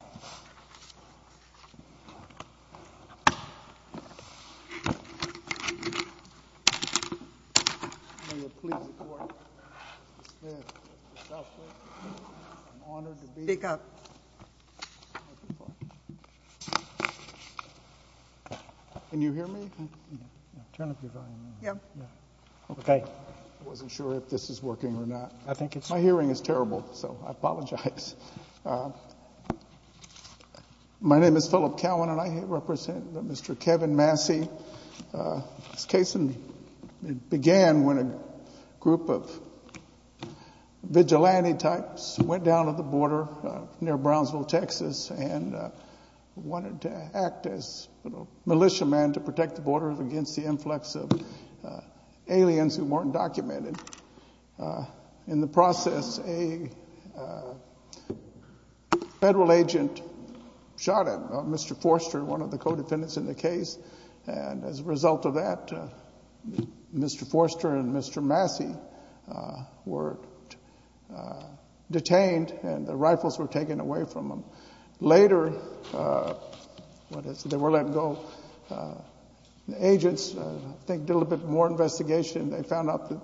I was not sure if this was working or not. My hearing is terrible, so I apologize. My name is Philip Cowan and I represent Mr. Kevin Massey. This case began when a group of vigilante types went down to the border near Brownsville, Texas and wanted to act as militiamen to protect the border against the influx of aliens who weren't documented. In the process, a federal agent shot at Mr. Forster, one of the co-defendants in the case. As a result of that, Mr. Forster and Mr. Massey were detained and their rifles were taken away from them. Later, they were let go. The agents did a little bit more investigation. They found out that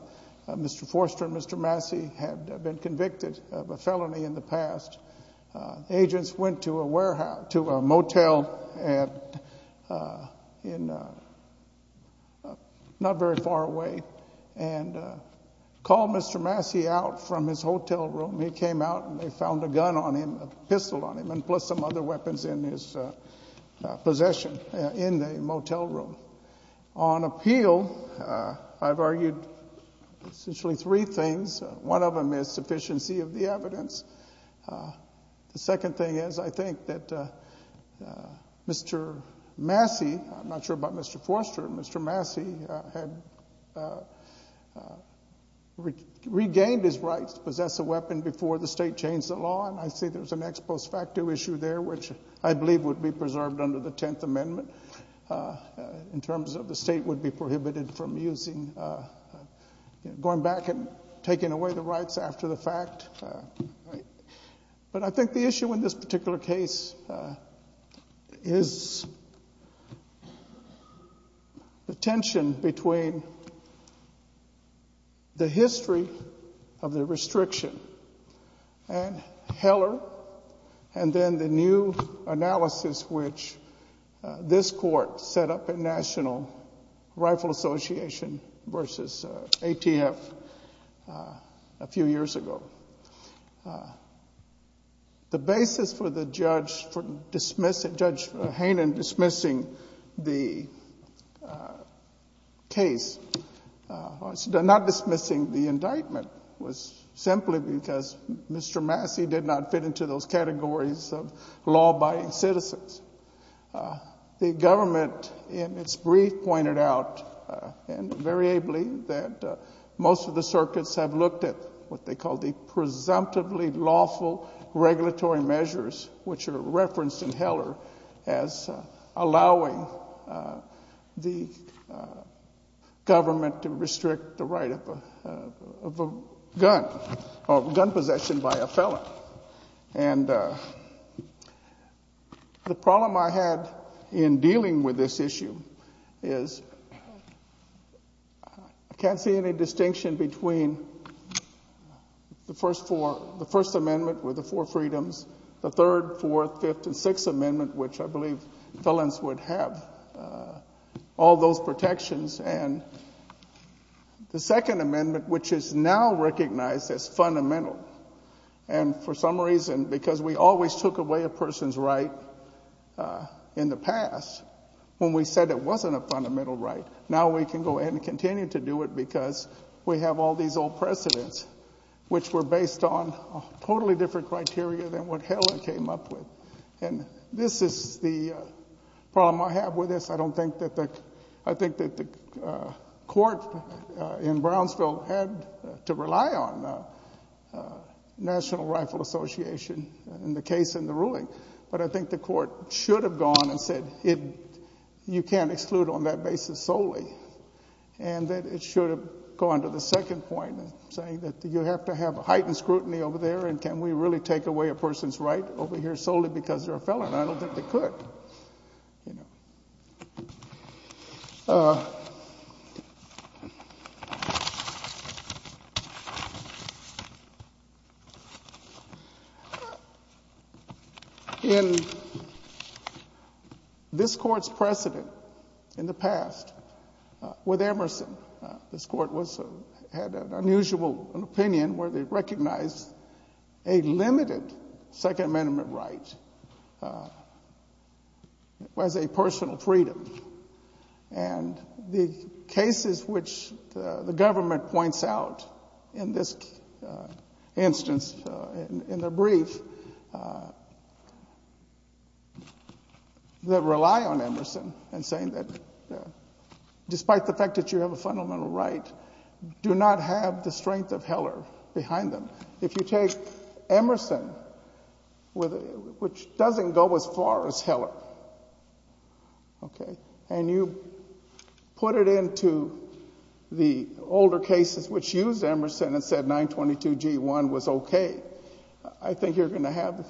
Mr. Forster and Mr. Massey had been convicted of a felony in the past. The agents went to a motel not very far away and called Mr. Massey out from his hotel room. He came out and they found a gun on him, a pistol on him, and plus some other weapons in his possession in the motel room. On appeal, I've argued essentially three things. One of them is sufficiency of the evidence. The second thing is I think that Mr. Massey, I'm not sure about Mr. Forster, Mr. Massey had regained his rights to possess a weapon before the state changed the law. I see there's an ex post facto issue there, which I believe would be preserved under the Tenth Amendment in terms of the state would be prohibited from using, going back and taking away the rights after the fact. But I think the issue in this particular case is the tension between the history of the restriction and Heller and then the new analysis which this court set up at National Rifle Association versus ATF a few years ago. The basis for Judge Hainan dismissing the case, not dismissing the indictment, was simply because Mr. Massey did not fit into those categories of law-abiding citizens. The government in its brief pointed out, and very ably, that most of the circuits have looked at what they call the presumptively lawful regulatory measures, which are referenced in Heller as allowing the government to restrict the right of a gun, or gun possession by a felon. And the problem I had in dealing with this issue is I can't see any distinction between the First Amendment with the four freedoms, the Third, Fourth, Fifth, and Sixth Amendment, which I believe felons would have all those protections, and the Second Amendment, which is now recognized as fundamental. And for some reason, because we always took away a person's right in the past, when we said it wasn't a fundamental right, now we can go ahead and continue to do it because we have all these old precedents, which were based on totally different criteria than what Heller came up with. And this is the problem I have with this. I don't think that the court in Brownsville had to rely on National Rifle Association in the case in the ruling, but I think the court should have gone and said you can't exclude on that basis solely, and that it should have gone to the second point in saying that you have to have heightened scrutiny over there, and can we really take away a person's right over here solely because they're a felon? I don't think they could. In this court's precedent in the past with Emerson, this court had an unusual opinion where they recognized a limited Second Amendment right as a personal freedom. And the cases which the government points out in this instance in their brief that rely on Emerson in saying that despite the fact that you have a fundamental right, do not have the strength of Heller behind them. If you take Emerson, which doesn't go as far as Heller, and you put it into the older cases which used Emerson and said 922G1 was okay, I think you're going to have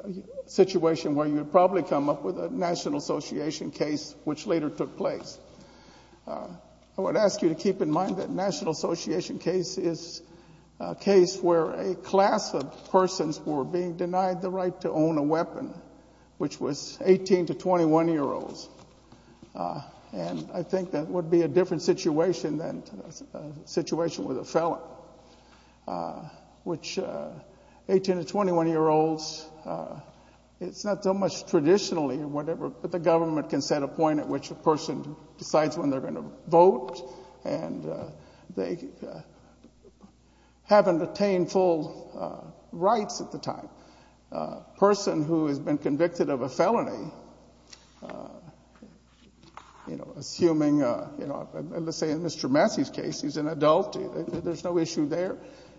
a situation where you'd probably come up with a National Association case which later took place. I would ask you to keep in mind that National Association case is a case where a class of persons were being denied the right to own a weapon, which was 18 to 21-year-olds. And I think that would be a different situation than a situation with a felon, which 18 to 21-year-olds, it's not so much traditionally, but the government can set a point at which a person decides when they're going to vote, and they haven't attained full rights at the time. A person who has been convicted of a felony, assuming, let's say in Mr. Massey's case, he's an adult, there's no issue there,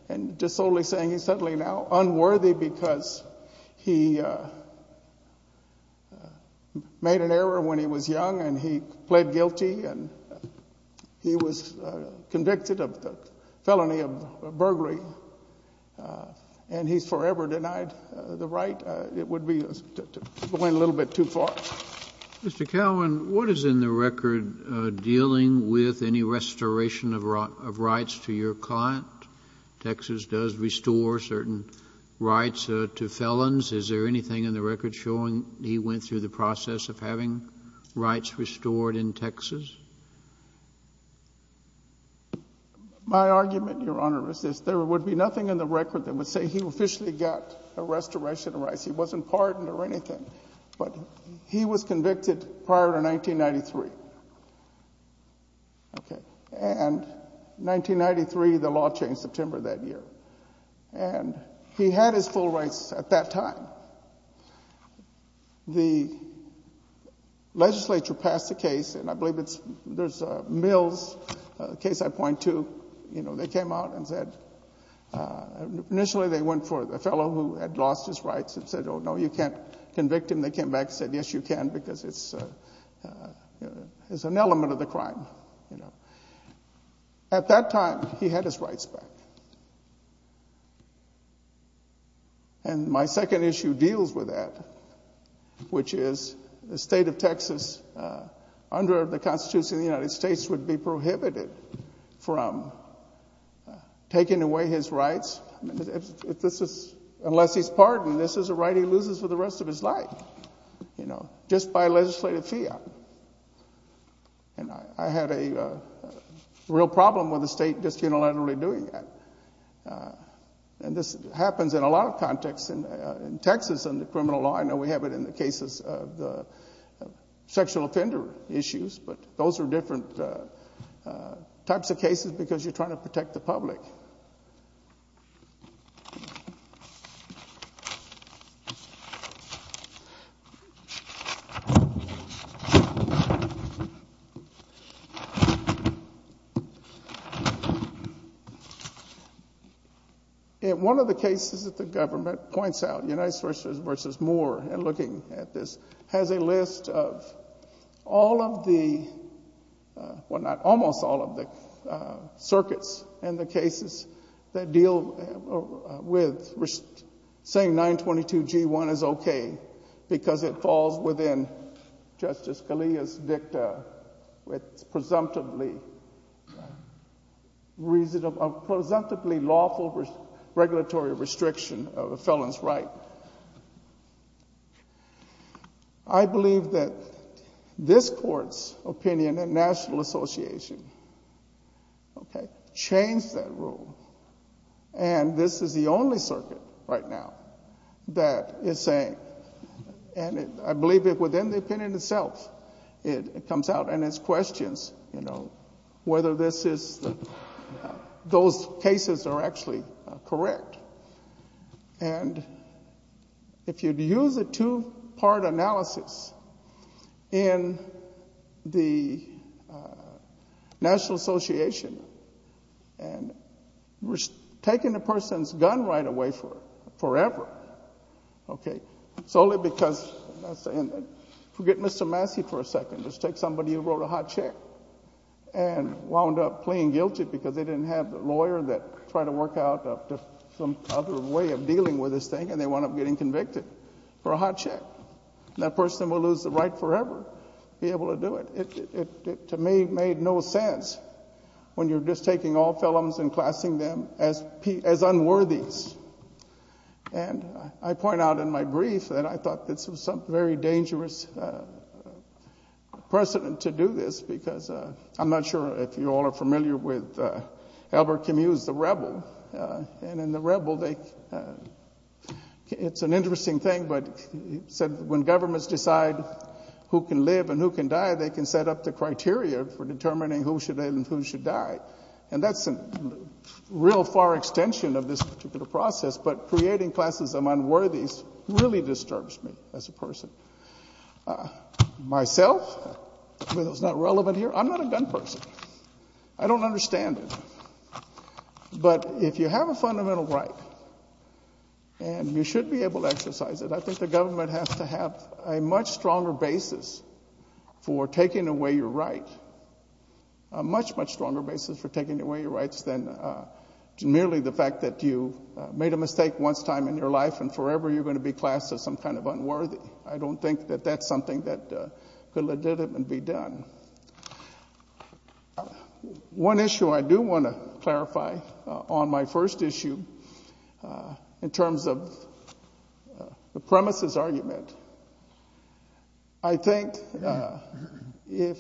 and just solely saying he's suddenly now unworthy because he made an error when he was young, and he pled guilty, and he was convicted of the felony of burglary, and he's forever denied the right. It would be going a little bit too far. Mr. Cowan, what is in the record dealing with any restoration of rights to your client? Texas does restore certain rights to felons. Is there anything in the record showing he went through the process of having rights restored in Texas? My argument, Your Honor, is this. There would be nothing in the record that would say he officially got a restoration of rights. He wasn't pardoned or anything, but he was convicted prior to 1993, and 1993, the law changed the timber that year, and he had his full rights at that time. The legislature passed a case, and I believe there's Mills, a case I point to. They came out and said initially they went for the fellow who had lost his rights and said, oh, no, you can't convict him. They came back and said, yes, you can, because it's an element of the crime. At that time, he had his rights back, and my second issue deals with that, which is the state of Texas under the Constitution of the United States would be prohibited from taking away his rights. Unless he's pardoned, this is a right he loses for the rest of his life, you know, just by legislative fiat. And I had a real problem with the state just unilaterally doing that. And this happens in a lot of contexts in Texas under criminal law. I know we have it in the cases of the sexual offender issues, but those are different types of cases because you're trying to protect the public. One of the cases that the government points out, United States v. Moore, and looking at this, has a list of almost all of the circuits and the cases that deal with saying 922 G1 is okay because it falls within Justice Scalia's dicta with a presumptively lawful regulatory restriction of a felon's right. I believe that this court's opinion and National Association changed that rule, and this is the only circuit right now that is saying, and I believe within the opinion itself, it comes out and it's questions, you know, whether those cases are actually correct. And if you use a two-part analysis in the National Association, and we're taking a person's gun right away forever, okay, solely because, and forget Mr. Massey for a second, just take somebody who wrote a hot check and wound up pleading guilty because they didn't have a lawyer that tried to work out some other way of dealing with this thing, and they wound up getting convicted for a hot check. That person will lose the right forever to be able to do it. It to me made no sense when you're just taking all felons and classing them as unworthies. And I point out in my brief that I thought this was some very dangerous precedent to do this because I'm not sure if you all are familiar with Albert Camus, the rebel. And in the rebel, it's an interesting thing, but he said when governments decide who can live and who can die, they can set up the criteria for determining who should live and who should die. And that's a real far extension of this particular process, but creating classes of unworthies really disturbs me as a person. Myself, whether it's not relevant here, I'm not a gun person. I don't understand it. But if you have a fundamental right and you should be able to exercise it, I think the government has to have a much stronger basis for taking away your right, a much, much stronger basis for taking away your rights than merely the fact that you made a mistake once in your life and forever you're going to be classed as some kind of unworthy. I don't think that that's something that could legitimately be done. One issue I do want to clarify on my first issue in terms of the premises argument, I think if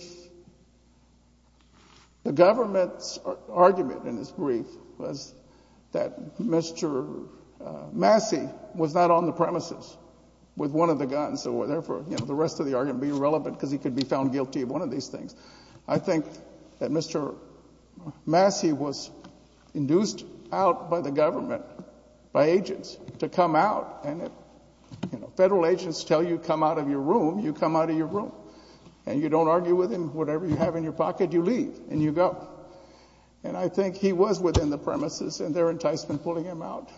the government's argument in this brief was that Mr. Massey was not on the premises with one of the guns, so therefore the rest of the argument would be irrelevant because he could be found guilty of one of these things. I think that Mr. Massey was induced out by the government, by agents, to come out, and if federal agents tell you to come out of your room, you come out of your room. And you don't argue with them. Whatever you have in your pocket, you leave and you go. And I think he was within the premises and their enticement pulling him out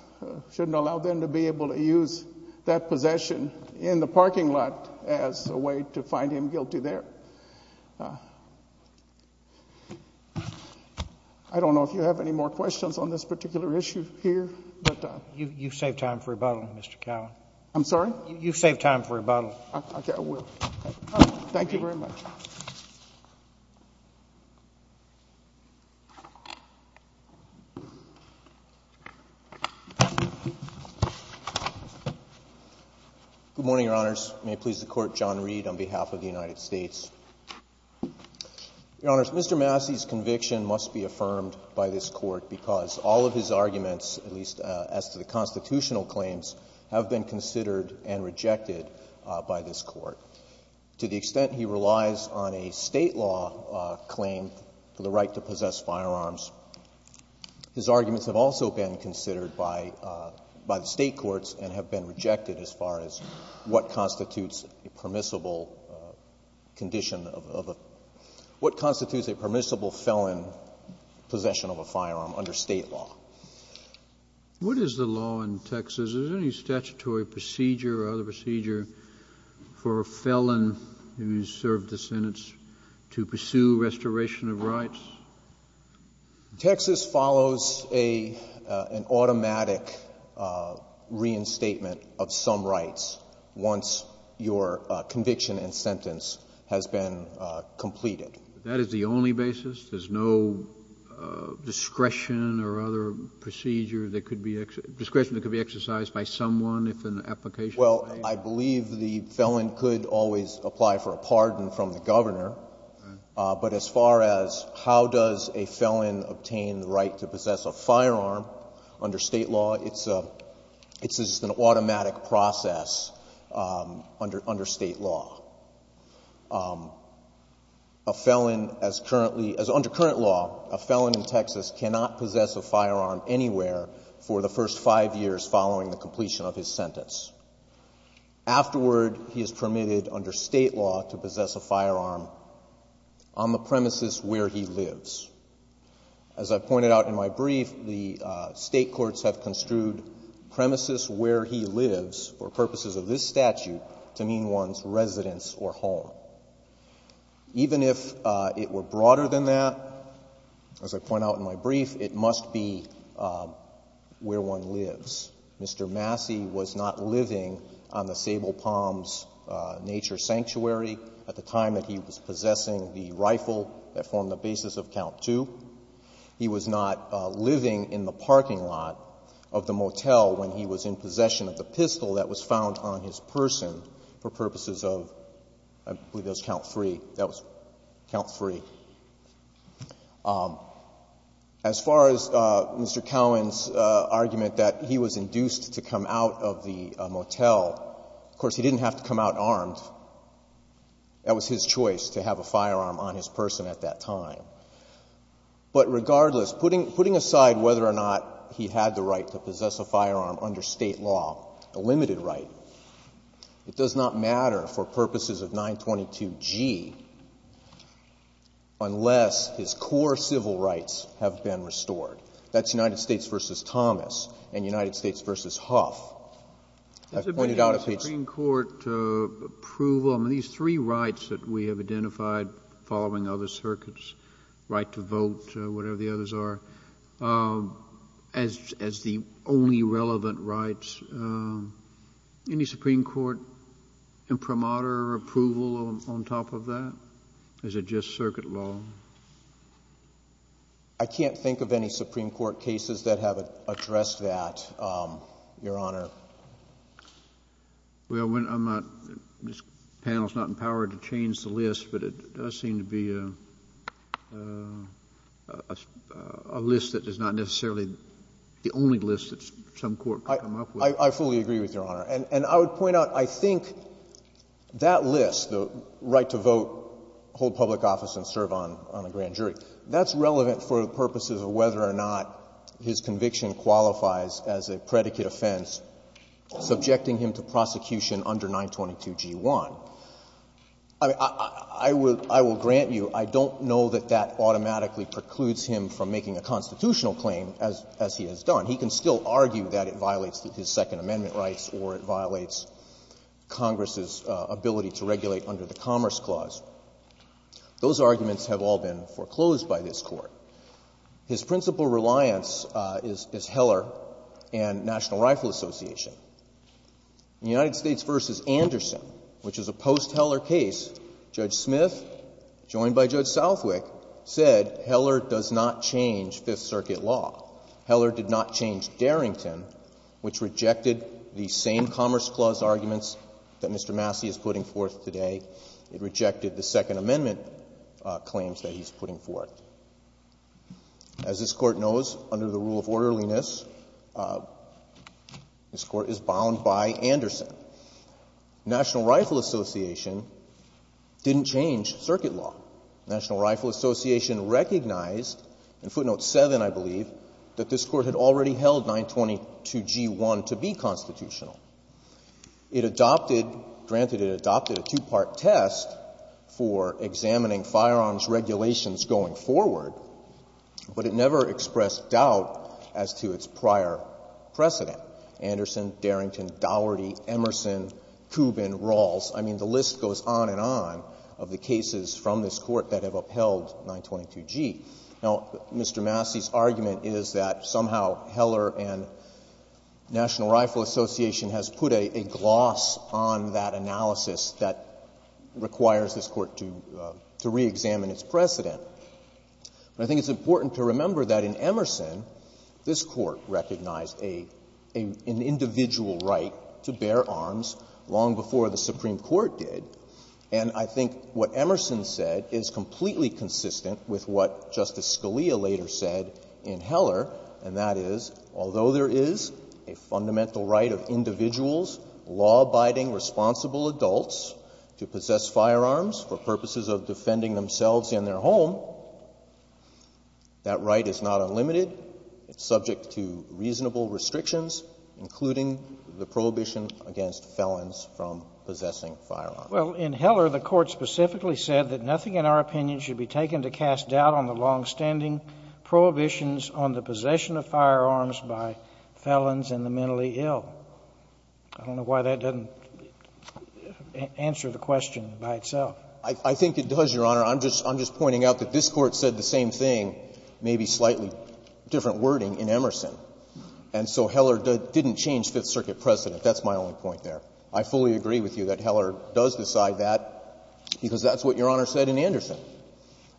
shouldn't allow them to be able to use that possession in the parking lot as a way to find him guilty there. I don't know if you have any more questions on this particular issue here. You saved time for rebuttal, Mr. Cowan. I'm sorry? You saved time for rebuttal. Okay, I will. Thank you very much. Good morning, Your Honors. May it please the Court, John Reed on behalf of the United States. Your Honors, Mr. Massey's conviction must be affirmed by this Court because all of his arguments, at least as to the constitutional claims, have been considered and rejected by this Court. To the extent he relies on a state law claim for the right to possess firearms, his arguments have also been considered by the state courts and have been rejected as far as what constitutes a permissible condition of a what constitutes a permissible felon possession of a firearm under state law. What is the law in Texas? Is there any statutory procedure or other procedure for a felon who has served the sentence to pursue restoration of rights? Texas follows an automatic reinstatement of some rights once your conviction and sentence has been completed. That is the only basis? There's no discretion or other procedure that could be exercised, discretion that could be exercised by someone if an application is made? Well, I believe the felon could always apply for a pardon from the governor, but as far as how does a felon obtain the right to possess a firearm under state law, it's an automatic process under state law. A felon as currently, as under current law, a felon in Texas cannot possess a firearm anywhere for the first five years following the completion of his sentence. Afterward, he is permitted under state law to possess a firearm on the premises where he lives. As I pointed out in my brief, the State courts have construed premises where he lives for purposes of this statute to mean one's residence or home. Even if it were broader than that, as I point out in my brief, it must be where one lives. Mr. Massey was not living on the Sable Palms Nature Sanctuary at the time that he was possessing the rifle that formed the basis of count two. He was not living in the parking lot of the motel when he was in possession of the pistol that was found on his person for purposes of, I believe that was count three, that was count three. As far as Mr. Cowan's argument that he was induced to come out of the motel, of course, he didn't have to come out armed. That was his choice to have a firearm on his person at that time. But regardless, putting aside whether or not he had the right to possess a firearm under state law, a limited right, it does not matter for purposes of 922G unless his core civil rights have been restored. That's United States v. Thomas and United States v. Huff. I've pointed out a piece of it. The Supreme Court approval, I mean, these three rights that we have identified following other circuits, right to vote, whatever the others are, as the only relevant rights, any Supreme Court imprimatur or approval on top of that? Is it just circuit law? I can't think of any Supreme Court cases that have addressed that, Your Honor. Well, I'm not, this panel is not empowered to change the list, but it does seem to be a list that is not necessarily the only list that some court could come up with. I fully agree with Your Honor. And I would point out, I think that list, the right to vote, hold public office and serve on a grand jury, that's relevant for purposes of whether or not his conviction qualifies as a predicate offense subjecting him to prosecution under 922G1. I will grant you, I don't know that that automatically precludes him from making a constitutional claim, as he has done. He can still argue that it violates his Second Amendment rights or it violates Congress's ability to regulate under the Commerce Clause. Those arguments have all been foreclosed by this Court. His principal reliance is Heller and National Rifle Association. In the United States v. Anderson, which is a post-Heller case, Judge Smith, joined by Judge Southwick, said Heller does not change Fifth Circuit law. Heller did not change Darrington, which rejected the same Commerce Clause arguments that Mr. Massey is putting forth today. It rejected the Second Amendment claims that he's putting forth. As this Court knows, under the rule of orderliness, this Court is bound by Anderson. National Rifle Association didn't change Circuit law. National Rifle Association recognized, in footnote 7, I believe, that this Court had already held 922G1 to be constitutional. It adopted, granted it adopted a two-part test for examining firearms regulations going forward, but it never expressed doubt as to its prior precedent. Anderson, Darrington, Daugherty, Emerson, Kubin, Rawls. I mean, the list goes on and on of the cases from this Court that have upheld 922G. Now, Mr. Massey's argument is that somehow Heller and National Rifle Association has put a gloss on that analysis that requires this Court to reexamine its precedent. But I think it's important to remember that in Emerson, this Court recognized an individual right to bear arms long before the Supreme Court did. And I think what Emerson said is completely consistent with what Justice Scalia later said in Heller, and that is, although there is a fundamental right of individuals, law-abiding, responsible adults, to possess firearms for purposes of defending themselves and their home, that right is not unlimited. It's subject to reasonable restrictions, including the prohibition against felons from possessing firearms. Well, in Heller, the Court specifically said that nothing in our opinion should be taken to cast doubt on the longstanding prohibitions on the possession of firearms by felons and the mentally ill. I don't know why that doesn't answer the question by itself. I think it does, Your Honor. I'm just pointing out that this Court said the same thing, maybe slightly different wording, in Emerson. And so Heller didn't change Fifth Circuit precedent. That's my only point there. I fully agree with you that Heller does decide that because that's what Your Honor said in Anderson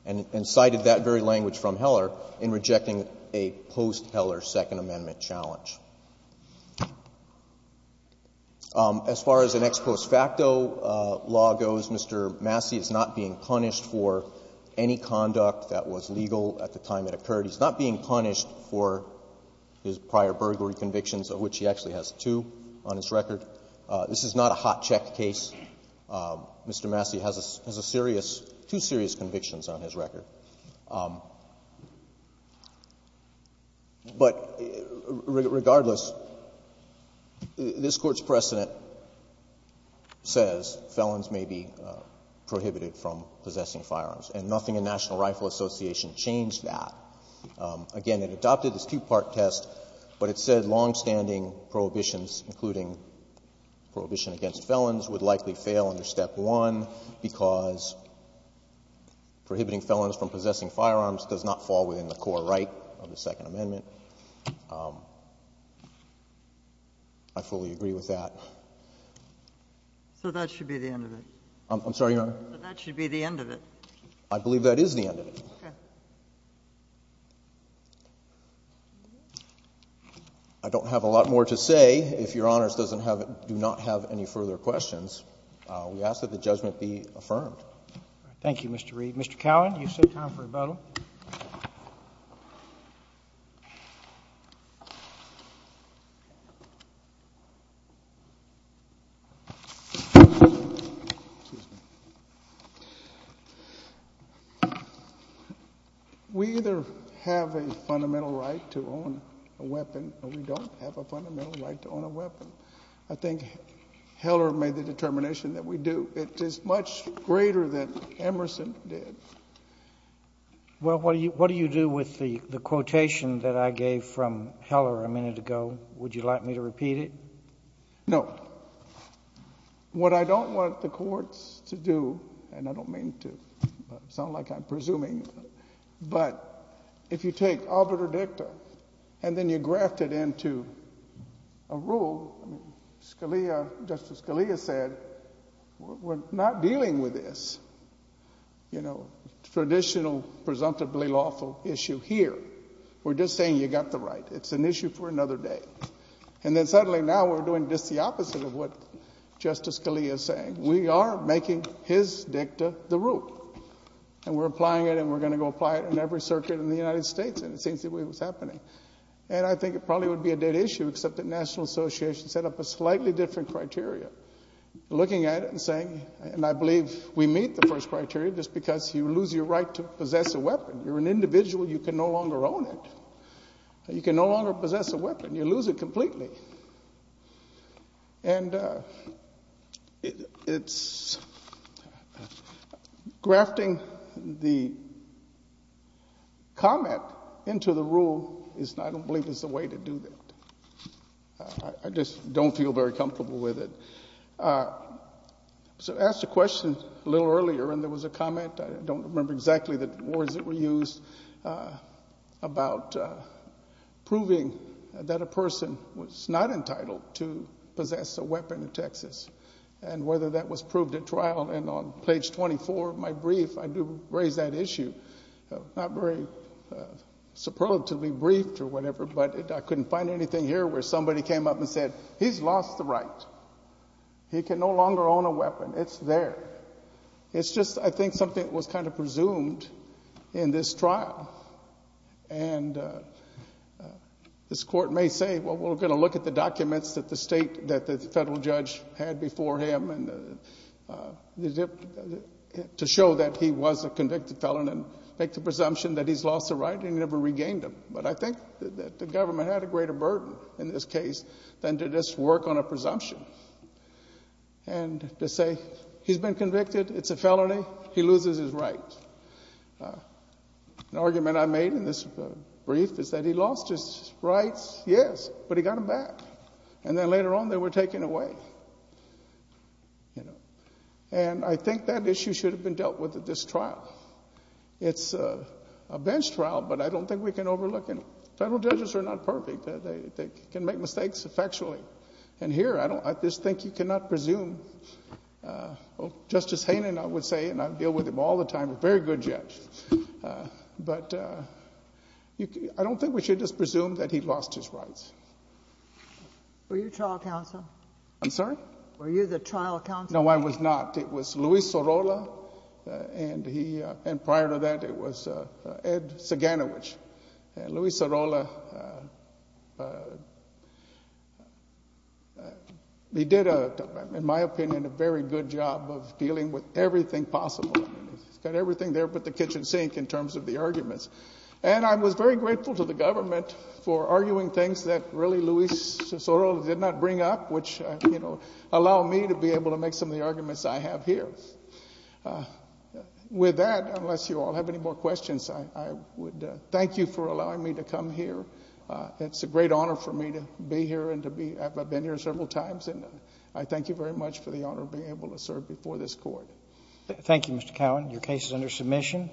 and cited that very language from Heller in rejecting a post-Heller Second Amendment challenge. As far as an ex post facto law goes, Mr. Massey is not being punished for any conduct that was legal at the time it occurred. He's not being punished for his prior burglary convictions, of which he actually has two on his record. This is not a hot check case. Mr. Massey has a serious, two serious convictions on his record. But regardless, this Court's precedent says felons may be prohibited from possessing firearms, and nothing in National Rifle Association changed that. Again, it adopted this two-part test, but it said longstanding prohibitions, including prohibition against felons, would likely fail under Step 1 because prohibiting felons from possessing firearms does not fall within the core right of the Second Amendment. I fully agree with that. So that should be the end of it? I'm sorry, Your Honor? So that should be the end of it? I believe that is the end of it. Okay. I don't have a lot more to say. If Your Honors do not have any further questions, we ask that the judgment be affirmed. Thank you, Mr. Reed. Mr. Cowan, you said time for rebuttal. We either have a fundamental right to own a weapon or we don't have a fundamental right to own a weapon. I think Heller made the determination that we do. It is much greater than Emerson did. Well, what do you do with the quotation that I gave from Heller a minute ago? Would you like me to repeat it? No. What I don't want the courts to do, and I don't mean to sound like I'm presuming, but if you take arbiter dicta and then you graft it into a rule, Justice Scalia said, we're not dealing with this traditional, presumptively lawful issue here. We're just saying you got the right. It's an issue for another day. And then suddenly now we're doing just the opposite of what Justice Scalia is saying. We are making his dicta the rule. And we're applying it and we're going to go apply it in every circuit in the United States. And it seems the way it was happening. And I think it probably would be a dead issue except that National Association set up a slightly different criteria. Looking at it and saying, and I believe we meet the first criteria just because you lose your right to possess a weapon. You're an individual. You can no longer own it. You can no longer possess a weapon. You lose it completely. And it's grafting the comment into the rule, I don't believe is the way to do that. I just don't feel very comfortable with it. So I asked a question a little earlier and there was a comment, I don't remember exactly the words that were used, about proving that a person was not entitled to possess a weapon in Texas and whether that was proved at trial. And on page 24 of my brief, I do raise that issue. Not very superlatively briefed or whatever, but I couldn't find anything here where somebody came up and said, he's lost the right. He can no longer own a weapon. It's there. It's just, I think, something that was kind of presumed in this trial. And this court may say, well, we're going to look at the documents that the federal judge had before him to show that he was a convicted felon and make the presumption that he's lost the right and he never regained it. But I think that the government had a greater burden in this case than did this work on a presumption. And to say, he's been convicted, it's a felony, he loses his right. An argument I made in this brief is that he lost his rights, yes, but he got them back. And then later on they were taken away. And I think that issue should have been dealt with at this trial. It's a bench trial, but I don't think we can overlook it. Federal judges are not perfect. They can make mistakes effectually. And here, I just think you cannot presume. Justice Haynen, I would say, and I deal with him all the time, a very good judge. But I don't think we should just presume that he lost his rights. Were you trial counsel? I'm sorry? Were you the trial counsel? No, I was not. It was Luis Sorolla, and prior to that it was Ed Saganowich. And Luis Sorolla, he did, in my opinion, a very good job of dealing with everything possible. He's got everything there but the kitchen sink in terms of the arguments. And I was very grateful to the government for arguing things that really Luis Sorolla did not bring up, which allowed me to be able to make some of the arguments I have here. With that, unless you all have any more questions, I would thank you for allowing me to come here. It's a great honor for me to be here and to be... I've been here several times, and I thank you very much for the honor of being able to serve before this court. Thank you, Mr. Cowan. Your case is under submission.